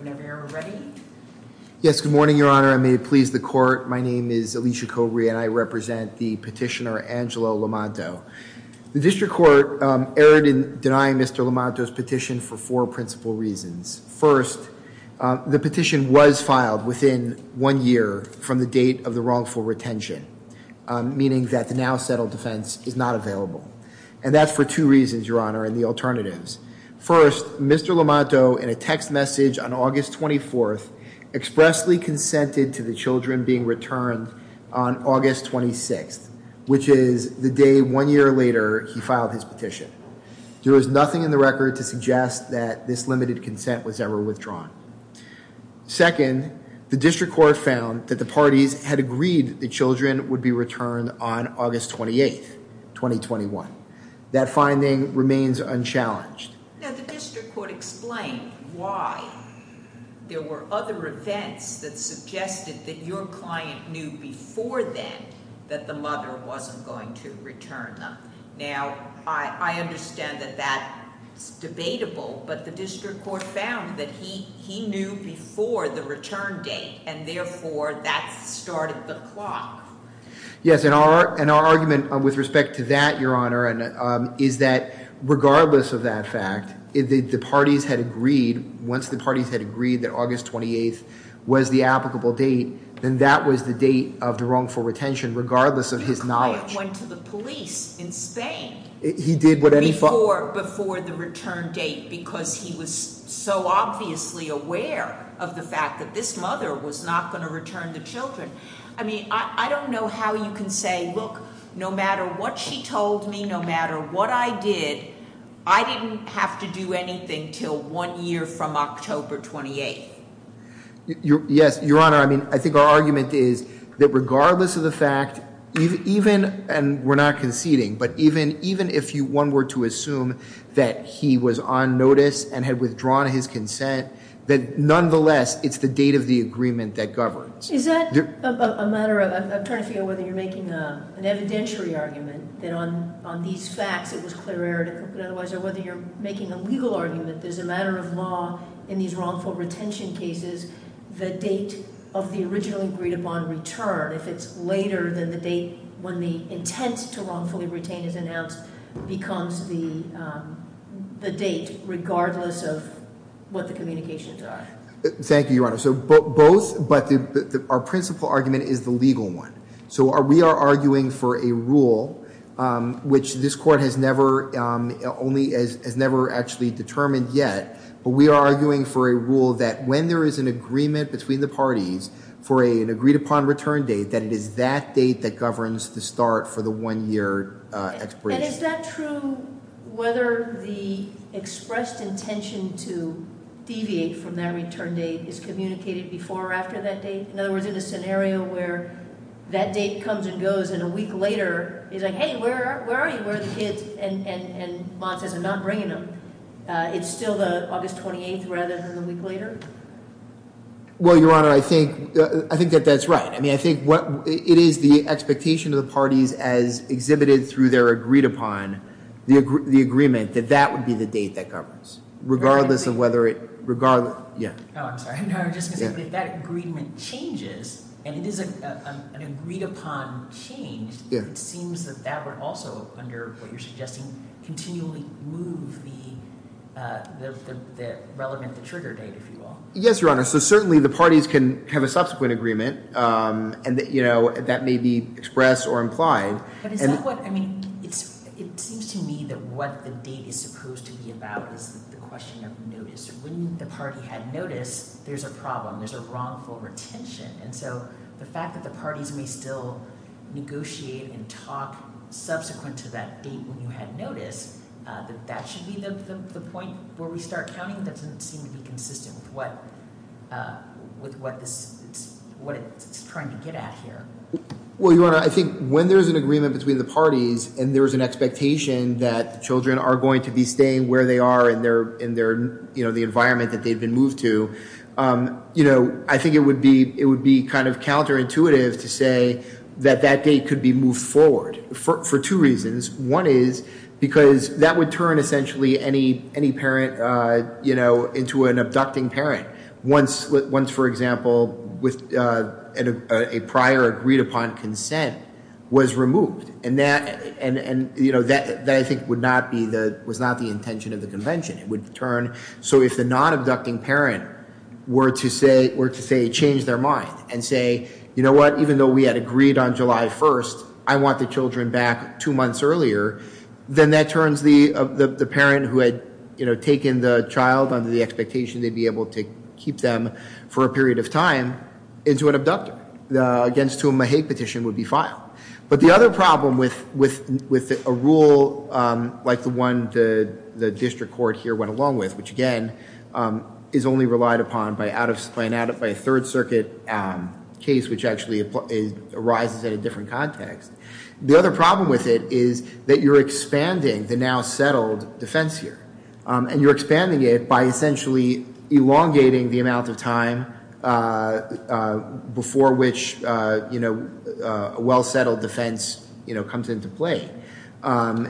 whenever you're ready. Yes, good morning, Your Honor. I made it please the court. My name is Alicia Cobre and I represent the petitioner Angelo Lomanto. The district court erred in denying Mr. Lomanto's petition for four principal reasons. First, the petition was filed within one year from the date of the wrongful retention, meaning that the now settled defense is not available. And that's for two reasons, Your Honor, and the alternatives. First, Mr. Lomanto in a text message on August 24th expressly consented to the children being returned on August 26th, which is the day one year later he filed his petition. There was nothing in the record to suggest that this limited consent was ever withdrawn. Second, the district court found that the parties had agreed the children would be returned on August 28th, 2021. That district court explained why there were other events that suggested that your client knew before then that the mother wasn't going to return them. Now, I understand that that's debatable, but the district court found that he knew before the return date and therefore that started the clock. Yes, and our argument with respect to that, Your Honor, is that if the parties had agreed, once the parties had agreed that August 28th was the applicable date, then that was the date of the wrongful retention, regardless of his knowledge. My client went to the police in Spain before the return date because he was so obviously aware of the fact that this mother was not going to return the children. I mean, I don't know how you can say, look, no matter what she told me, no matter what I did, I didn't have to do anything till one year from October 28th. Yes, Your Honor, I mean, I think our argument is that regardless of the fact, even, and we're not conceding, but even if one were to assume that he was on notice and had withdrawn his consent, that nonetheless, it's the date of the agreement that governs. Is that a matter of, I'm trying to figure out whether you're making an evidentiary argument that on these facts it was clear or whether you're making a legal argument, there's a matter of law in these wrongful retention cases, the date of the originally agreed upon return, if it's later than the date when the intent to wrongfully retain is announced, becomes the date, regardless of what the communications are. Thank you, Your Honor. So both, but our principal argument is the legal one. So we are arguing for a rule, which this court has never actually determined yet, but we are arguing for a rule that when there is an agreement between the parties for an agreed upon return date, that it is that date that governs the start for the one year expiration. And is that true whether the expressed intention to deviate from that return date is communicated before or after that date? In other words, in a scenario where that date comes and goes, and a week later, it's like, hey, where are you? Where are the kids? And Mott says, I'm not bringing them. It's still the August 28th rather than the week later? Well, Your Honor, I think that that's right. I mean, I think it is the expectation of the parties as exhibited through their agreed upon, the agreement that that would be the date that governs, regardless of whether it, regardless, yeah. Oh, I'm sorry. No, just because if that agreement changes and it is an agreed upon change, it seems that that would also, under what you're suggesting, continually move the relevant, the trigger date, if you will. Yes, Your Honor. So certainly the parties can have a subsequent agreement and that may be expressed or implied. But is that what, I mean, it seems to me that what the date is supposed to be about is the question of notice. When the party had notice, there's a problem. There's a wrongful retention. And so the fact that the parties may still negotiate and talk subsequent to that date when you had notice, that that should be the point where we start counting doesn't seem to be consistent with what it's trying to get at here. Well, Your Honor, I think when there's an agreement between the parties and there's an expectation that the children are going to be staying where they are in their, you know, the environment that they've been moved to, you know, I think it would be kind of counterintuitive to say that that date could be moved forward for two reasons. One is because that would turn essentially any parent, you know, into an abducting parent once, for example, a prior agreed upon consent was removed. And that, you know, that I think would not be the, was not the intention of the convention. It would turn, so if the non-abducting parent were to say, were to say, change their mind and say, you know what, even though we had agreed on July 1st, I want the children back two months earlier, then that turns the parent who had, you know, taken the child under the expectation they'd be able to keep them for a period of time into an abductor, against whom a hate petition would be filed. But the other problem with a rule like the one the district court here went along with, which again is only relied upon by out of, by a third circuit case which actually arises in a different context, the other problem with it is that you're expanding the now settled defense here. And you're expanding it by essentially elongating the well-settled defense, you know, comes into play.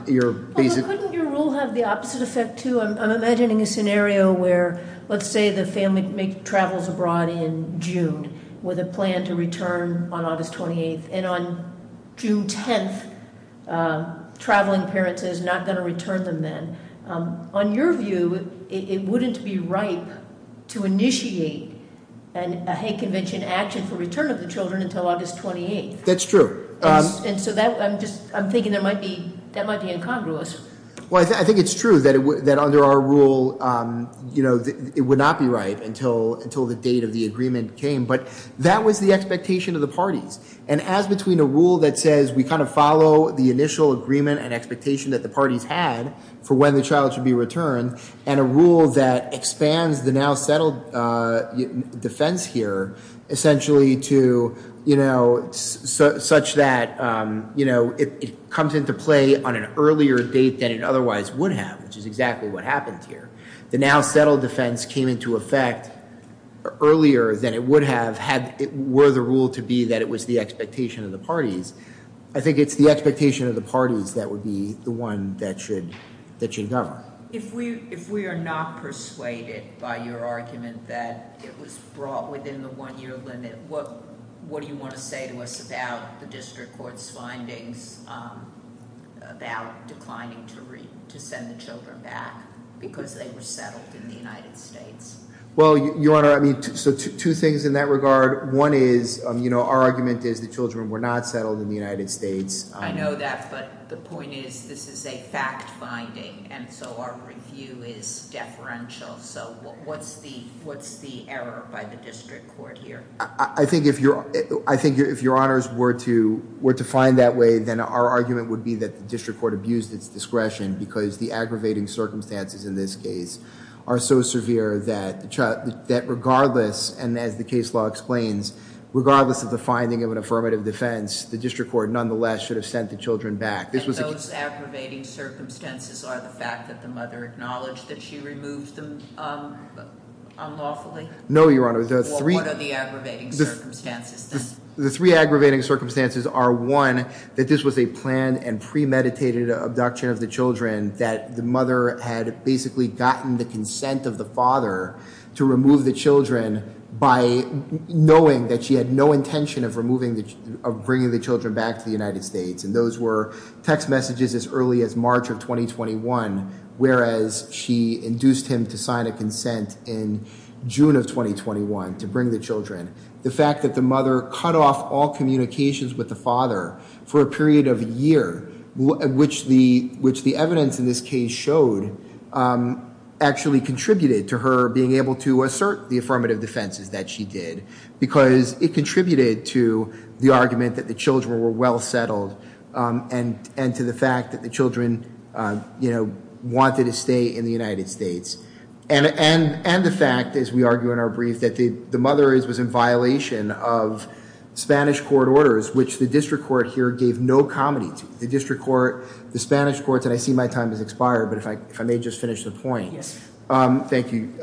Your basic- Couldn't your rule have the opposite effect too? I'm imagining a scenario where, let's say the family makes, travels abroad in June with a plan to return on August 28th, and on June 10th, traveling parents is not going to return them then. On your view, it wouldn't be right to initiate a hate convention action for return of the children until August 28th. That's true. And so that, I'm just, I'm thinking there might be, that might be incongruous. Well, I think it's true that it would, that under our rule, you know, it would not be right until, until the date of the agreement came. But that was the expectation of the parties. And as between a rule that says we kind of follow the initial agreement and expectation that the parties had for when the child should be returned, and a rule that such that, you know, it comes into play on an earlier date than it otherwise would have, which is exactly what happened here. The now settled defense came into effect earlier than it would have had, were the rule to be that it was the expectation of the parties. I think it's the expectation of the parties that would be the one that should, that should govern. If we, if we are not persuaded by your argument that it was brought within the one-year limit, what, what do you want to say to us about the district court's findings about declining to send the children back because they were settled in the United States? Well, Your Honor, I mean, so two things in that regard. One is, you know, our argument is the children were not settled in the United States. I know that, but the point is this is a fact finding. And so our review is deferential. So what's the, what's the error by the district court here? I think if you're, I think if Your Honors were to, were to find that way, then our argument would be that the district court abused its discretion because the aggravating circumstances in this case are so severe that, that regardless, and as the case law explains, regardless of the finding of an affirmative defense, the district court nonetheless should have sent the children back. And those aggravating circumstances are the fact that the mother acknowledged that she removed them unlawfully? No, Your Honor. The three aggravating circumstances are one, that this was a planned and premeditated abduction of the children, that the mother had basically gotten the consent of the father to remove the children by knowing that she had no intention of removing the, of bringing the children back to the United States. And those were text messages as early as March of 2021, whereas she induced him to sign a consent in June of 2021 to bring the children. The fact that the mother cut off all communications with the father for a period of a year, which the, which the evidence in this case showed actually contributed to her being able to assert the affirmative defenses that she did, because it contributed to the argument that the children were well settled and, and to the fact that the children, you know, wanted to stay in the United States. And, and, and the fact, as we argue in our brief, that the mother was in violation of Spanish court orders, which the district court here gave no comedy to. The district court, the Spanish courts, and I see my time has expired, but if I, if I may just finish the point. Yes. Thank you.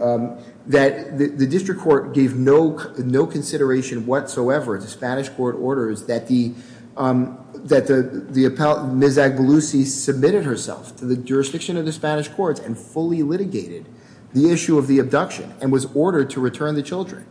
That the district court gave no, no consideration whatsoever to Spanish court orders that the, that the, the appellant, Ms. Agbelusi submitted herself to the jurisdiction of the Spanish courts and fully litigated the issue of the abduction and was ordered to return the children.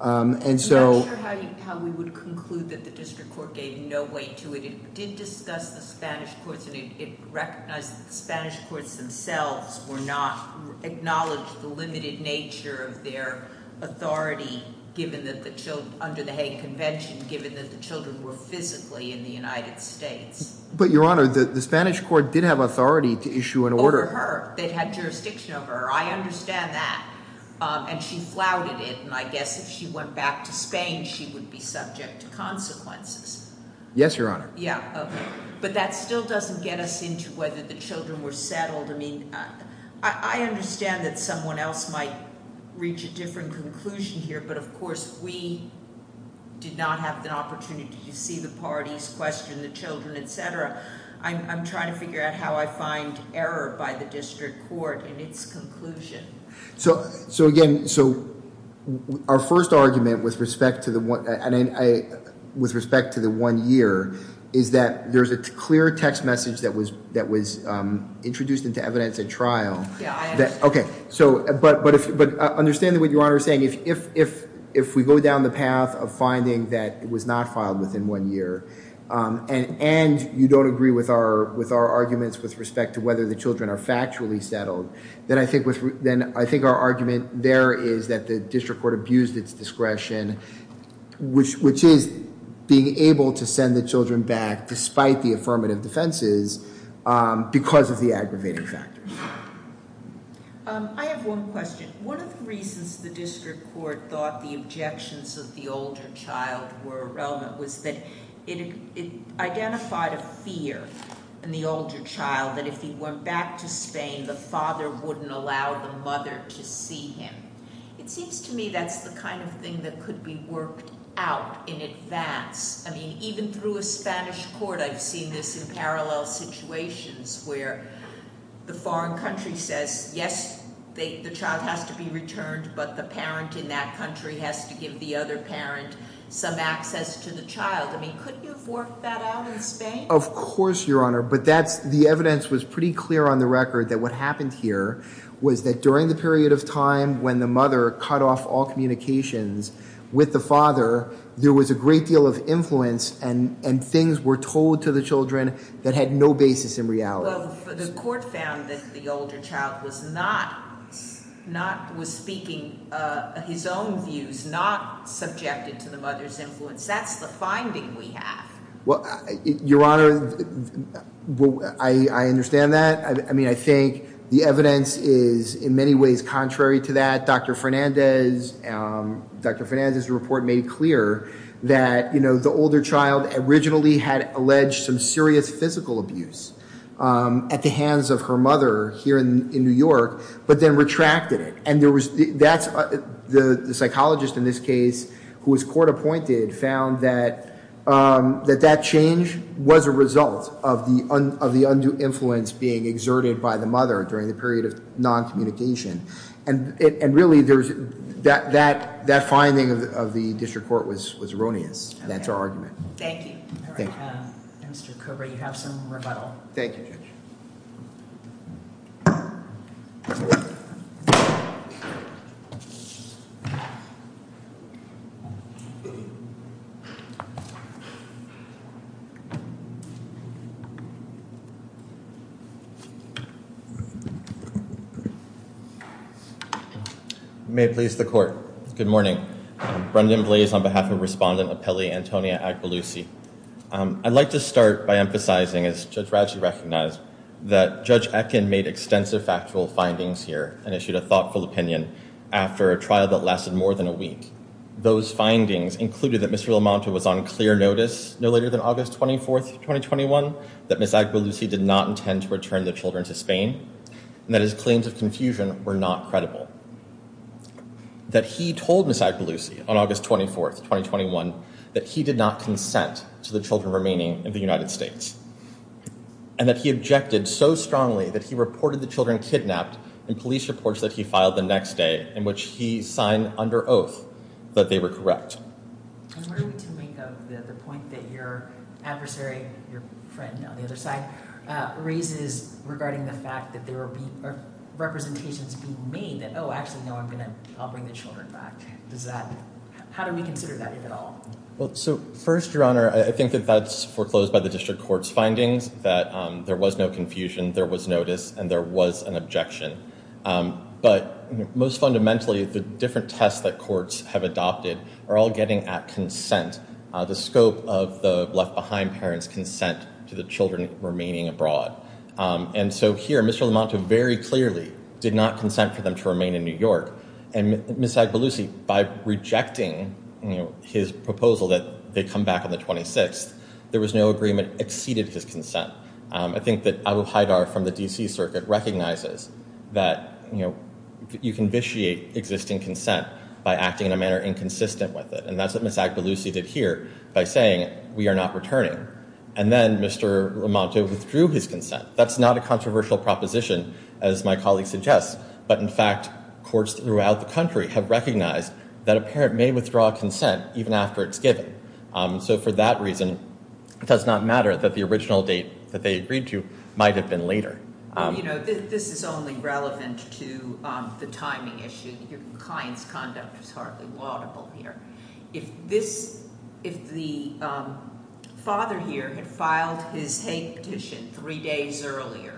And so. I'm not sure how you, how we would conclude that the district court gave no weight to it. It did discuss the Spanish courts and it recognized that the Spanish courts themselves were not acknowledged the limited nature of their authority, given that the children, under the Hague convention, given that the children were physically in the United States. But Your Honor, the Spanish court did have authority to issue an order. Over her. They had jurisdiction over her. I understand that. And she flouted it. And I guess if she went back to Spain, she would be subject to consequences. Yes, Your Honor. Yeah. Okay. But that still doesn't get us into whether the children were settled. I mean, I understand that someone else might reach a different conclusion here, but of course, I did not have the opportunity to see the parties question the children, etc. I'm trying to figure out how I find error by the district court in its conclusion. So again, so our first argument with respect to the one year is that there's a clear text message that was introduced into evidence at trial. Yeah, I understand. But I understand what Your Honor is saying. If we go down the path of finding that it was not filed within one year and you don't agree with our arguments with respect to whether the children are factually settled, then I think our argument there is that the district court abused its discretion, which is being able to send the children back despite the affirmative defenses because of the aggravating factors. I have one question. One of the reasons the district court thought the objections of the older child were relevant was that it identified a fear in the older child that if he went back to Spain, the father wouldn't allow the mother to see him. It seems to me that's the kind of thing that could be worked out in advance. I mean, even through a Spanish court, I've seen this in parallel situations where the foreign country says, yes, the child has to be returned, but the parent in that country has to give the other parent some access to the child. I mean, couldn't you have worked that out in Spain? Of course, Your Honor, but the evidence was pretty clear on the record that what happened here was that during the period of time when the mother cut off all communications with the father, there was a great deal of influence and things were told to the children that had no basis in reality. Well, the court found that the older child was speaking his own views, not subjected to the mother's influence. That's the finding we have. Well, Your Honor, I understand that. I mean, I think the evidence is in many ways contrary to that. Dr. Fernandez's report made clear that the older child originally had alleged some serious physical abuse at the hands of her mother here in New York, but then retracted it. And the psychologist in this case, who was court appointed, found that that change was a result of the undue influence being exerted by the mother during the period of non-communication. And really, that finding of the district court was erroneous. That's our argument. Thank you. Thank you. Mr. Kober, you have some rebuttal. Thank you, Judge. If you may please, the court. Good morning. Brendan Blaze on behalf of Respondent Apelli Antonia Agbalusi. I'd like to start by emphasizing, as Judge Radcliffe recognized, that Judge Ekin made extensive factual findings here and issued a thoughtful opinion after a trial that lasted more than a week. Those findings included that Ms. Raimondo was on clear notice no later than August 24th, 2021, that Ms. Agbalusi did not intend to return the children to Spain, and that his claims of confusion were not credible. That he told Ms. Agbalusi on August 24th, 2021, that he did not consent to the children remaining in the United States, and that he objected so strongly that he reported the children kidnapped in police reports that he filed the next day, in which he signed under oath that they were correct. I was wondering what you make of the point that your adversary, your friend on the other side, raises regarding the fact that there were representations being made that, oh, actually, no, I'm going to bring the children back. How do we consider that at all? Well, so first, Your Honor, I think that that's foreclosed by the district court's findings, that there was no confusion, there was notice, and there was an objection. But most fundamentally, the different tests that courts have adopted are all getting at consent, the scope of the left-behind parents' consent to the children remaining abroad. And so here, Mr. LaMonto very clearly did not consent for them to remain in New York. And Ms. Agbalusi, by rejecting his proposal that they come back on the 26th, there was no agreement exceeded his consent. I think that Abu Haidar from the D.C. Circuit recognizes that, you can vitiate existing consent by acting in a manner inconsistent with it. And that's what Ms. Agbalusi did here by saying, we are not returning. And then Mr. LaMonto withdrew his consent. That's not a controversial proposition, as my colleague suggests. But in fact, courts throughout the country have recognized that a parent may withdraw consent even after it's given. So for that reason, it does not matter that the original date that they agreed to is a timing issue. Your client's conduct is hardly laudable here. If this, if the father here had filed his hate petition three days earlier,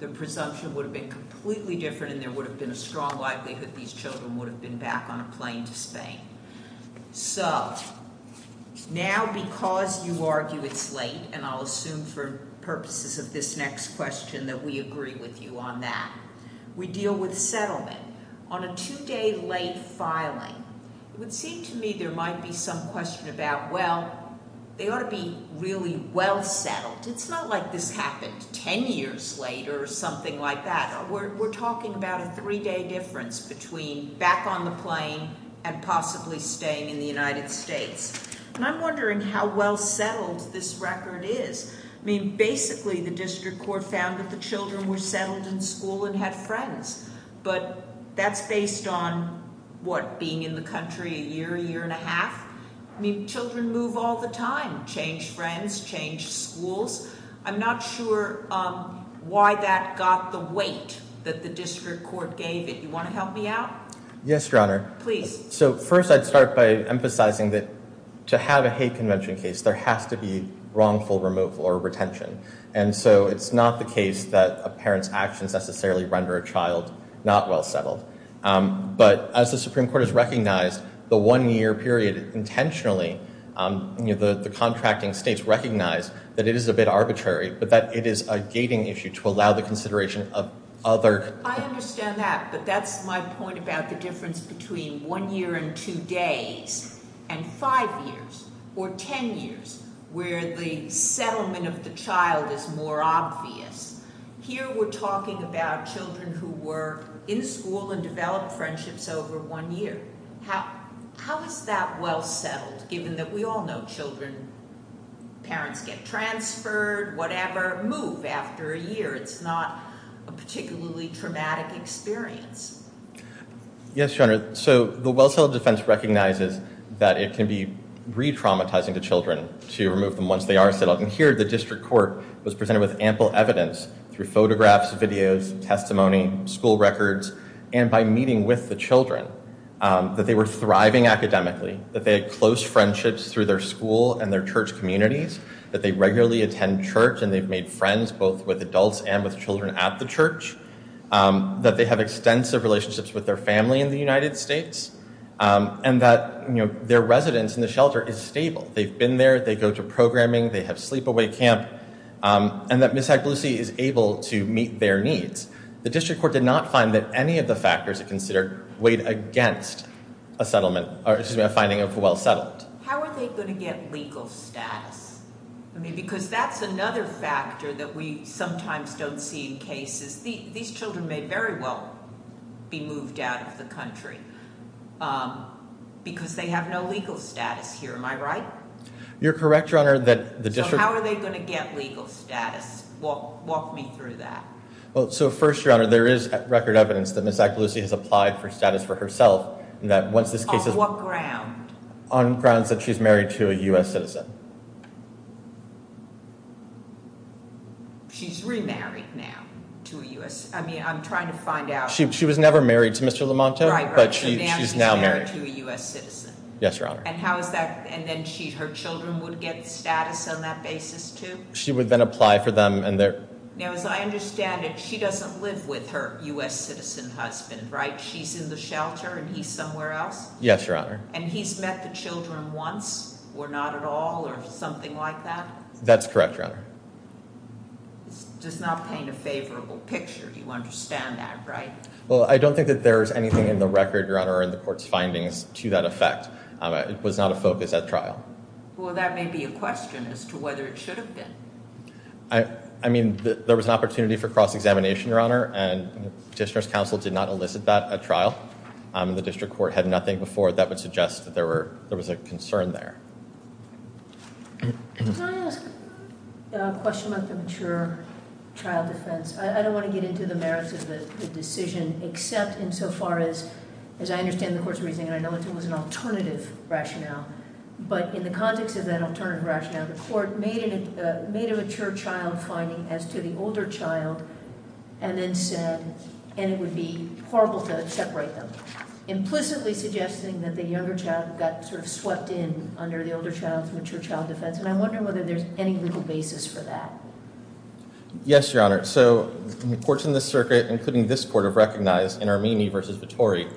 the presumption would have been completely different and there would have been a strong likelihood these children would have been back on a plane to Spain. So now because you argue it's late, and I'll assume for purposes of this next question that we agree with you on that, we deal with settlement. On a two-day late filing, it would seem to me there might be some question about, well, they ought to be really well settled. It's not like this happened ten years later or something like that. We're talking about a three-day difference between back on the plane and possibly staying in the United States. And I'm wondering how well settled this record is. I mean, basically the district court found that the children were settled in school and had friends. But that's based on, what, being in the country a year, a year and a half? I mean, children move all the time, change friends, change schools. I'm not sure why that got the weight that the district court gave it. You want to help me out? Yes, Your Honor. Please. So first I'd start by emphasizing that to have a hate convention case, there has to be wrongful removal or retention. And so it's not the case that a parent's actions necessarily render a child not well settled. But as the Supreme Court has recognized, the one-year period intentionally, the contracting states recognize that it is a bit arbitrary, but that it is a gating issue to allow the consideration of other- I understand that, but that's my point about the difference between one year and two days and five years or ten years, where the settlement of the child is more obvious. Here we're talking about children who were in school and developed friendships over one year. How is that well settled, given that we all know children, parents get transferred, whatever, move after a year? It's not a particularly traumatic experience. Yes, Your Honor. So the Well Settled Defense recognizes that it can be re-traumatizing to children to remove them once they are settled. And here the district court was presented with ample evidence through photographs, videos, testimony, school records, and by meeting with the children, that they were thriving academically, that they had close friendships through their school and their church communities, that they regularly attend church and they've made friends both with adults and with children at the church, that they have extensive relationships with their family in the United States, and that their residence in the shelter is stable. They've been there, they go to programming, they have sleep-away camp, and that Miss Agbalusi is able to meet their needs. The district court did not find that any of the factors it considered weighed against a settlement, or excuse me, a finding of a well settled. How are they going to get legal status? I mean, because that's another factor that we sometimes don't see in cases. These children may very well be moved out of the country because they have no legal status here, am I right? You're correct, Your Honor, that the district So how are they going to get legal status? Walk me through that. Well, so first, Your Honor, there is record evidence that Miss Agbalusi has applied for grounds that she's married to a U.S. citizen. She's remarried now to a U.S. citizen? I mean, I'm trying to find out. She was never married to Mr. Lamonto, but she's now married. Right, right, so now she's married to a U.S. citizen. Yes, Your Honor. And how is that, and then her children would get status on that basis too? She would then apply for them and their Now, as I understand it, she doesn't live with her U.S. citizen husband, right? She's in the shelter and he's somewhere else? Yes, Your Honor. And he's met the children once, or not at all, or something like that? That's correct, Your Honor. This does not paint a favorable picture. You understand that, right? Well, I don't think that there is anything in the record, Your Honor, or in the court's findings to that effect. It was not a focus at trial. Well, that may be a question as to whether it should have been. I mean, there was an opportunity for cross-examination, Your Honor, and the petitioner's counsel did not elicit that at trial. The district court had nothing before. That would suggest that there was a concern there. Can I ask a question about the mature child defense? I don't want to get into the merits of the decision, except insofar as I understand the court's reasoning, and I know it was an alternative rationale. But in the context of that alternative rationale, the court made a mature child finding as to the older child, and then said, and it would be horrible to separate them, implicitly suggesting that the younger child got sort of swept in under the older child's mature child defense. And I wonder whether there's any legal basis for that. Yes, Your Honor. So, the courts in this circuit, including this court, have recognized in Armini v. Vittori,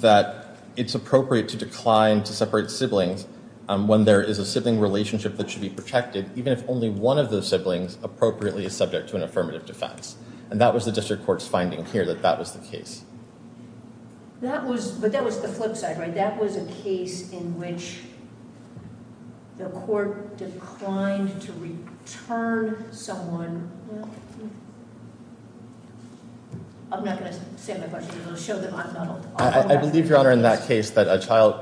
that it's appropriate to decline to separate siblings when there is a sibling relationship that should be protected, even if only one of those siblings appropriately is subject to an affirmative defense. And that was the district court's finding here, that that was the case. But that was the flip side, right? That was a case in which the court declined to return someone... I'm not going to say my question, because it will show that I'm not a law professor. I believe, Your Honor, in that case, that a child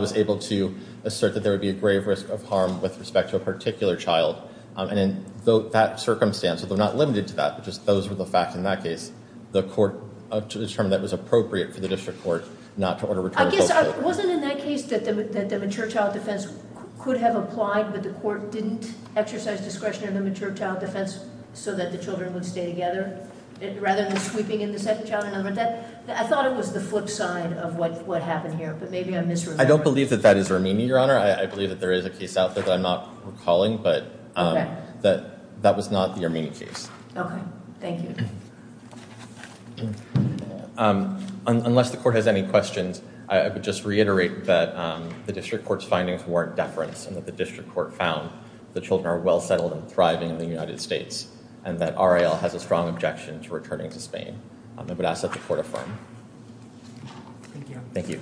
was able to assert that there would be a grave risk of harm with respect to a particular child. And in that circumstance, although not limited to that, but just those were the facts in that case, the court determined that it was appropriate for the district court not to order return of both children. I guess, wasn't it in that case that the mature child defense could have applied, but the court didn't exercise discretion in the mature child defense so that the children would stay together, rather than sweeping in the second child? I thought it was the flip side of what happened here, but maybe I'm misremembering. I don't believe that that is Armini, Your Honor. I believe that there is a case out there that I'm not recalling, but that was not the Armini case. Okay. Thank you. Unless the court has any questions, I would just reiterate that the district court's findings warrant deference, and that the district court found the children are well settled and thriving in the United States, and that RAL has a strong objection to returning to Spain. I would ask that the court affirm. Thank you. Thank you.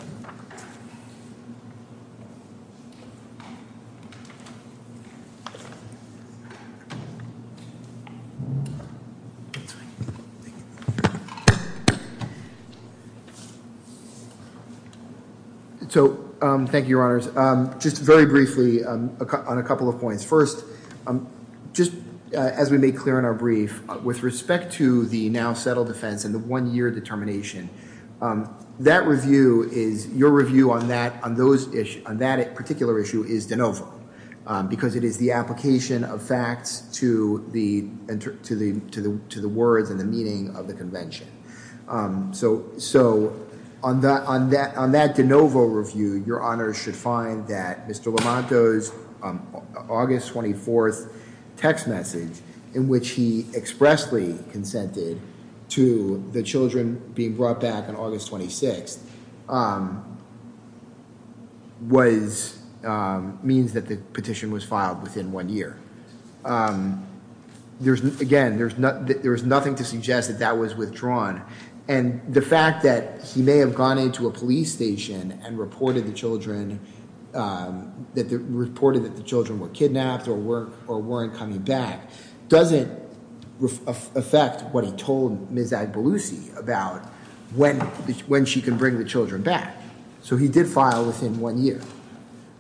So, thank you, Your Honors. Just very briefly on a couple of points. First, just as we made clear in our brief, with respect to the now settled defense and the one-year determination, that review is, your review on that, on that particular issue is de novo, and the one-year determination. Is an application of facts to the, to the, to the, to the words and the meaning of the convention. So, so on that, on that, on that de novo review, your honors should find that Mr. Lamont does August 24th text message in which he expressly consented to the children being brought back on August 26th. Was means that the petition was filed within one year. There's again, there's not, there was nothing to suggest that that was withdrawn. And the fact that he may have gone into a police station and reported the children that reported that the children were kidnapped or were, or weren't coming back. Doesn't affect what he told Ms. About when, when she can bring the children back. So he did file within one year.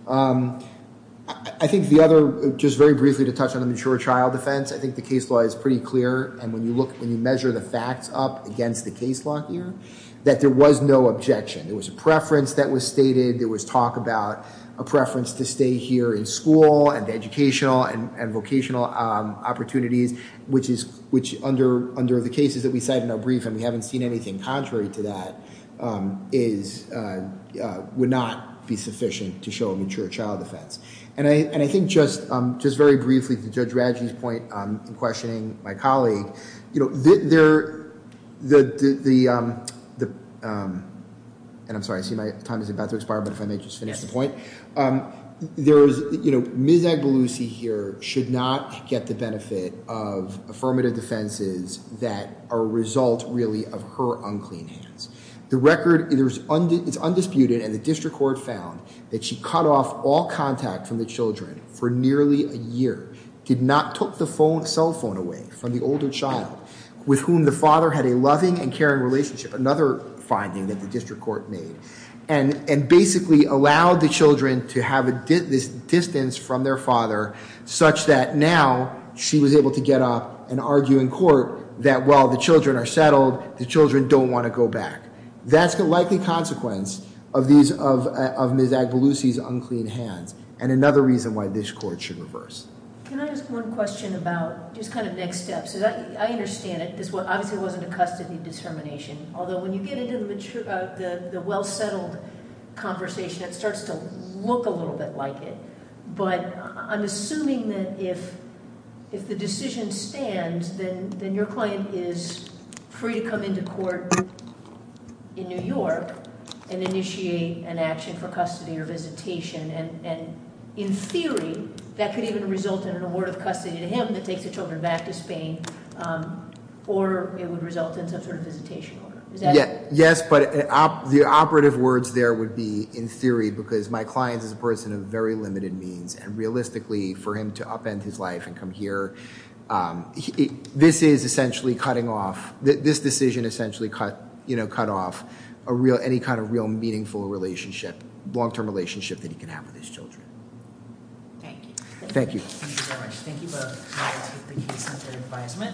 I think the other, just very briefly to touch on the mature child defense, I think the case law is pretty clear. And when you look, when you measure the facts up against the case law here, that there was no objection. There was a preference that was stated. There was talk about a preference to stay here in school and the educational and vocational opportunities, which is, which under, under the cases that we cited in our brief, and we haven't seen anything contrary to that is would not be sufficient to show a mature child defense. And I, and I think just, just very briefly to judge Radji's point in questioning my colleague, you know, there, the, the, the and I'm sorry, I see my time is about to expire, but if I may just finish the point, there is, you know, Ms. Agbalusi here should not get the benefit of affirmative defenses that are result really of her unclean hands. The record is undisputed and the district court found that she cut off all contact from the children for nearly a year, did not took the phone cell phone away from the older child with whom the father had a loving and caring relationship. Another finding that the district court made and, and basically allowed the children to have a distance from their father such that now she was able to get up and argue in court that while the children are settled, the children don't want to go back. That's the likely consequence of these, of, of Ms. Agbalusi's unclean hands and another reason why this court should reverse. Can I ask one question about just kind of next steps? I understand it. This obviously wasn't a custody determination, although when you get into the mature, the, the well-settled conversation, it starts to look a little bit like it, but I'm assuming that if, if the decision stands, then then your client is free to come into court in New York and initiate an action for custody or visitation. And in theory that could even result in an award of custody to him that takes the children back to Spain or it would result in some sort of visitation Yes, but the operative words there would be in theory, because my client is a person of very limited means and realistically for him to upend his life and come here. This is essentially cutting off this decision, essentially cut, you know, cut off a real, any kind of real meaningful relationship, longterm relationship that he can have with his children. Thank you. Thank you.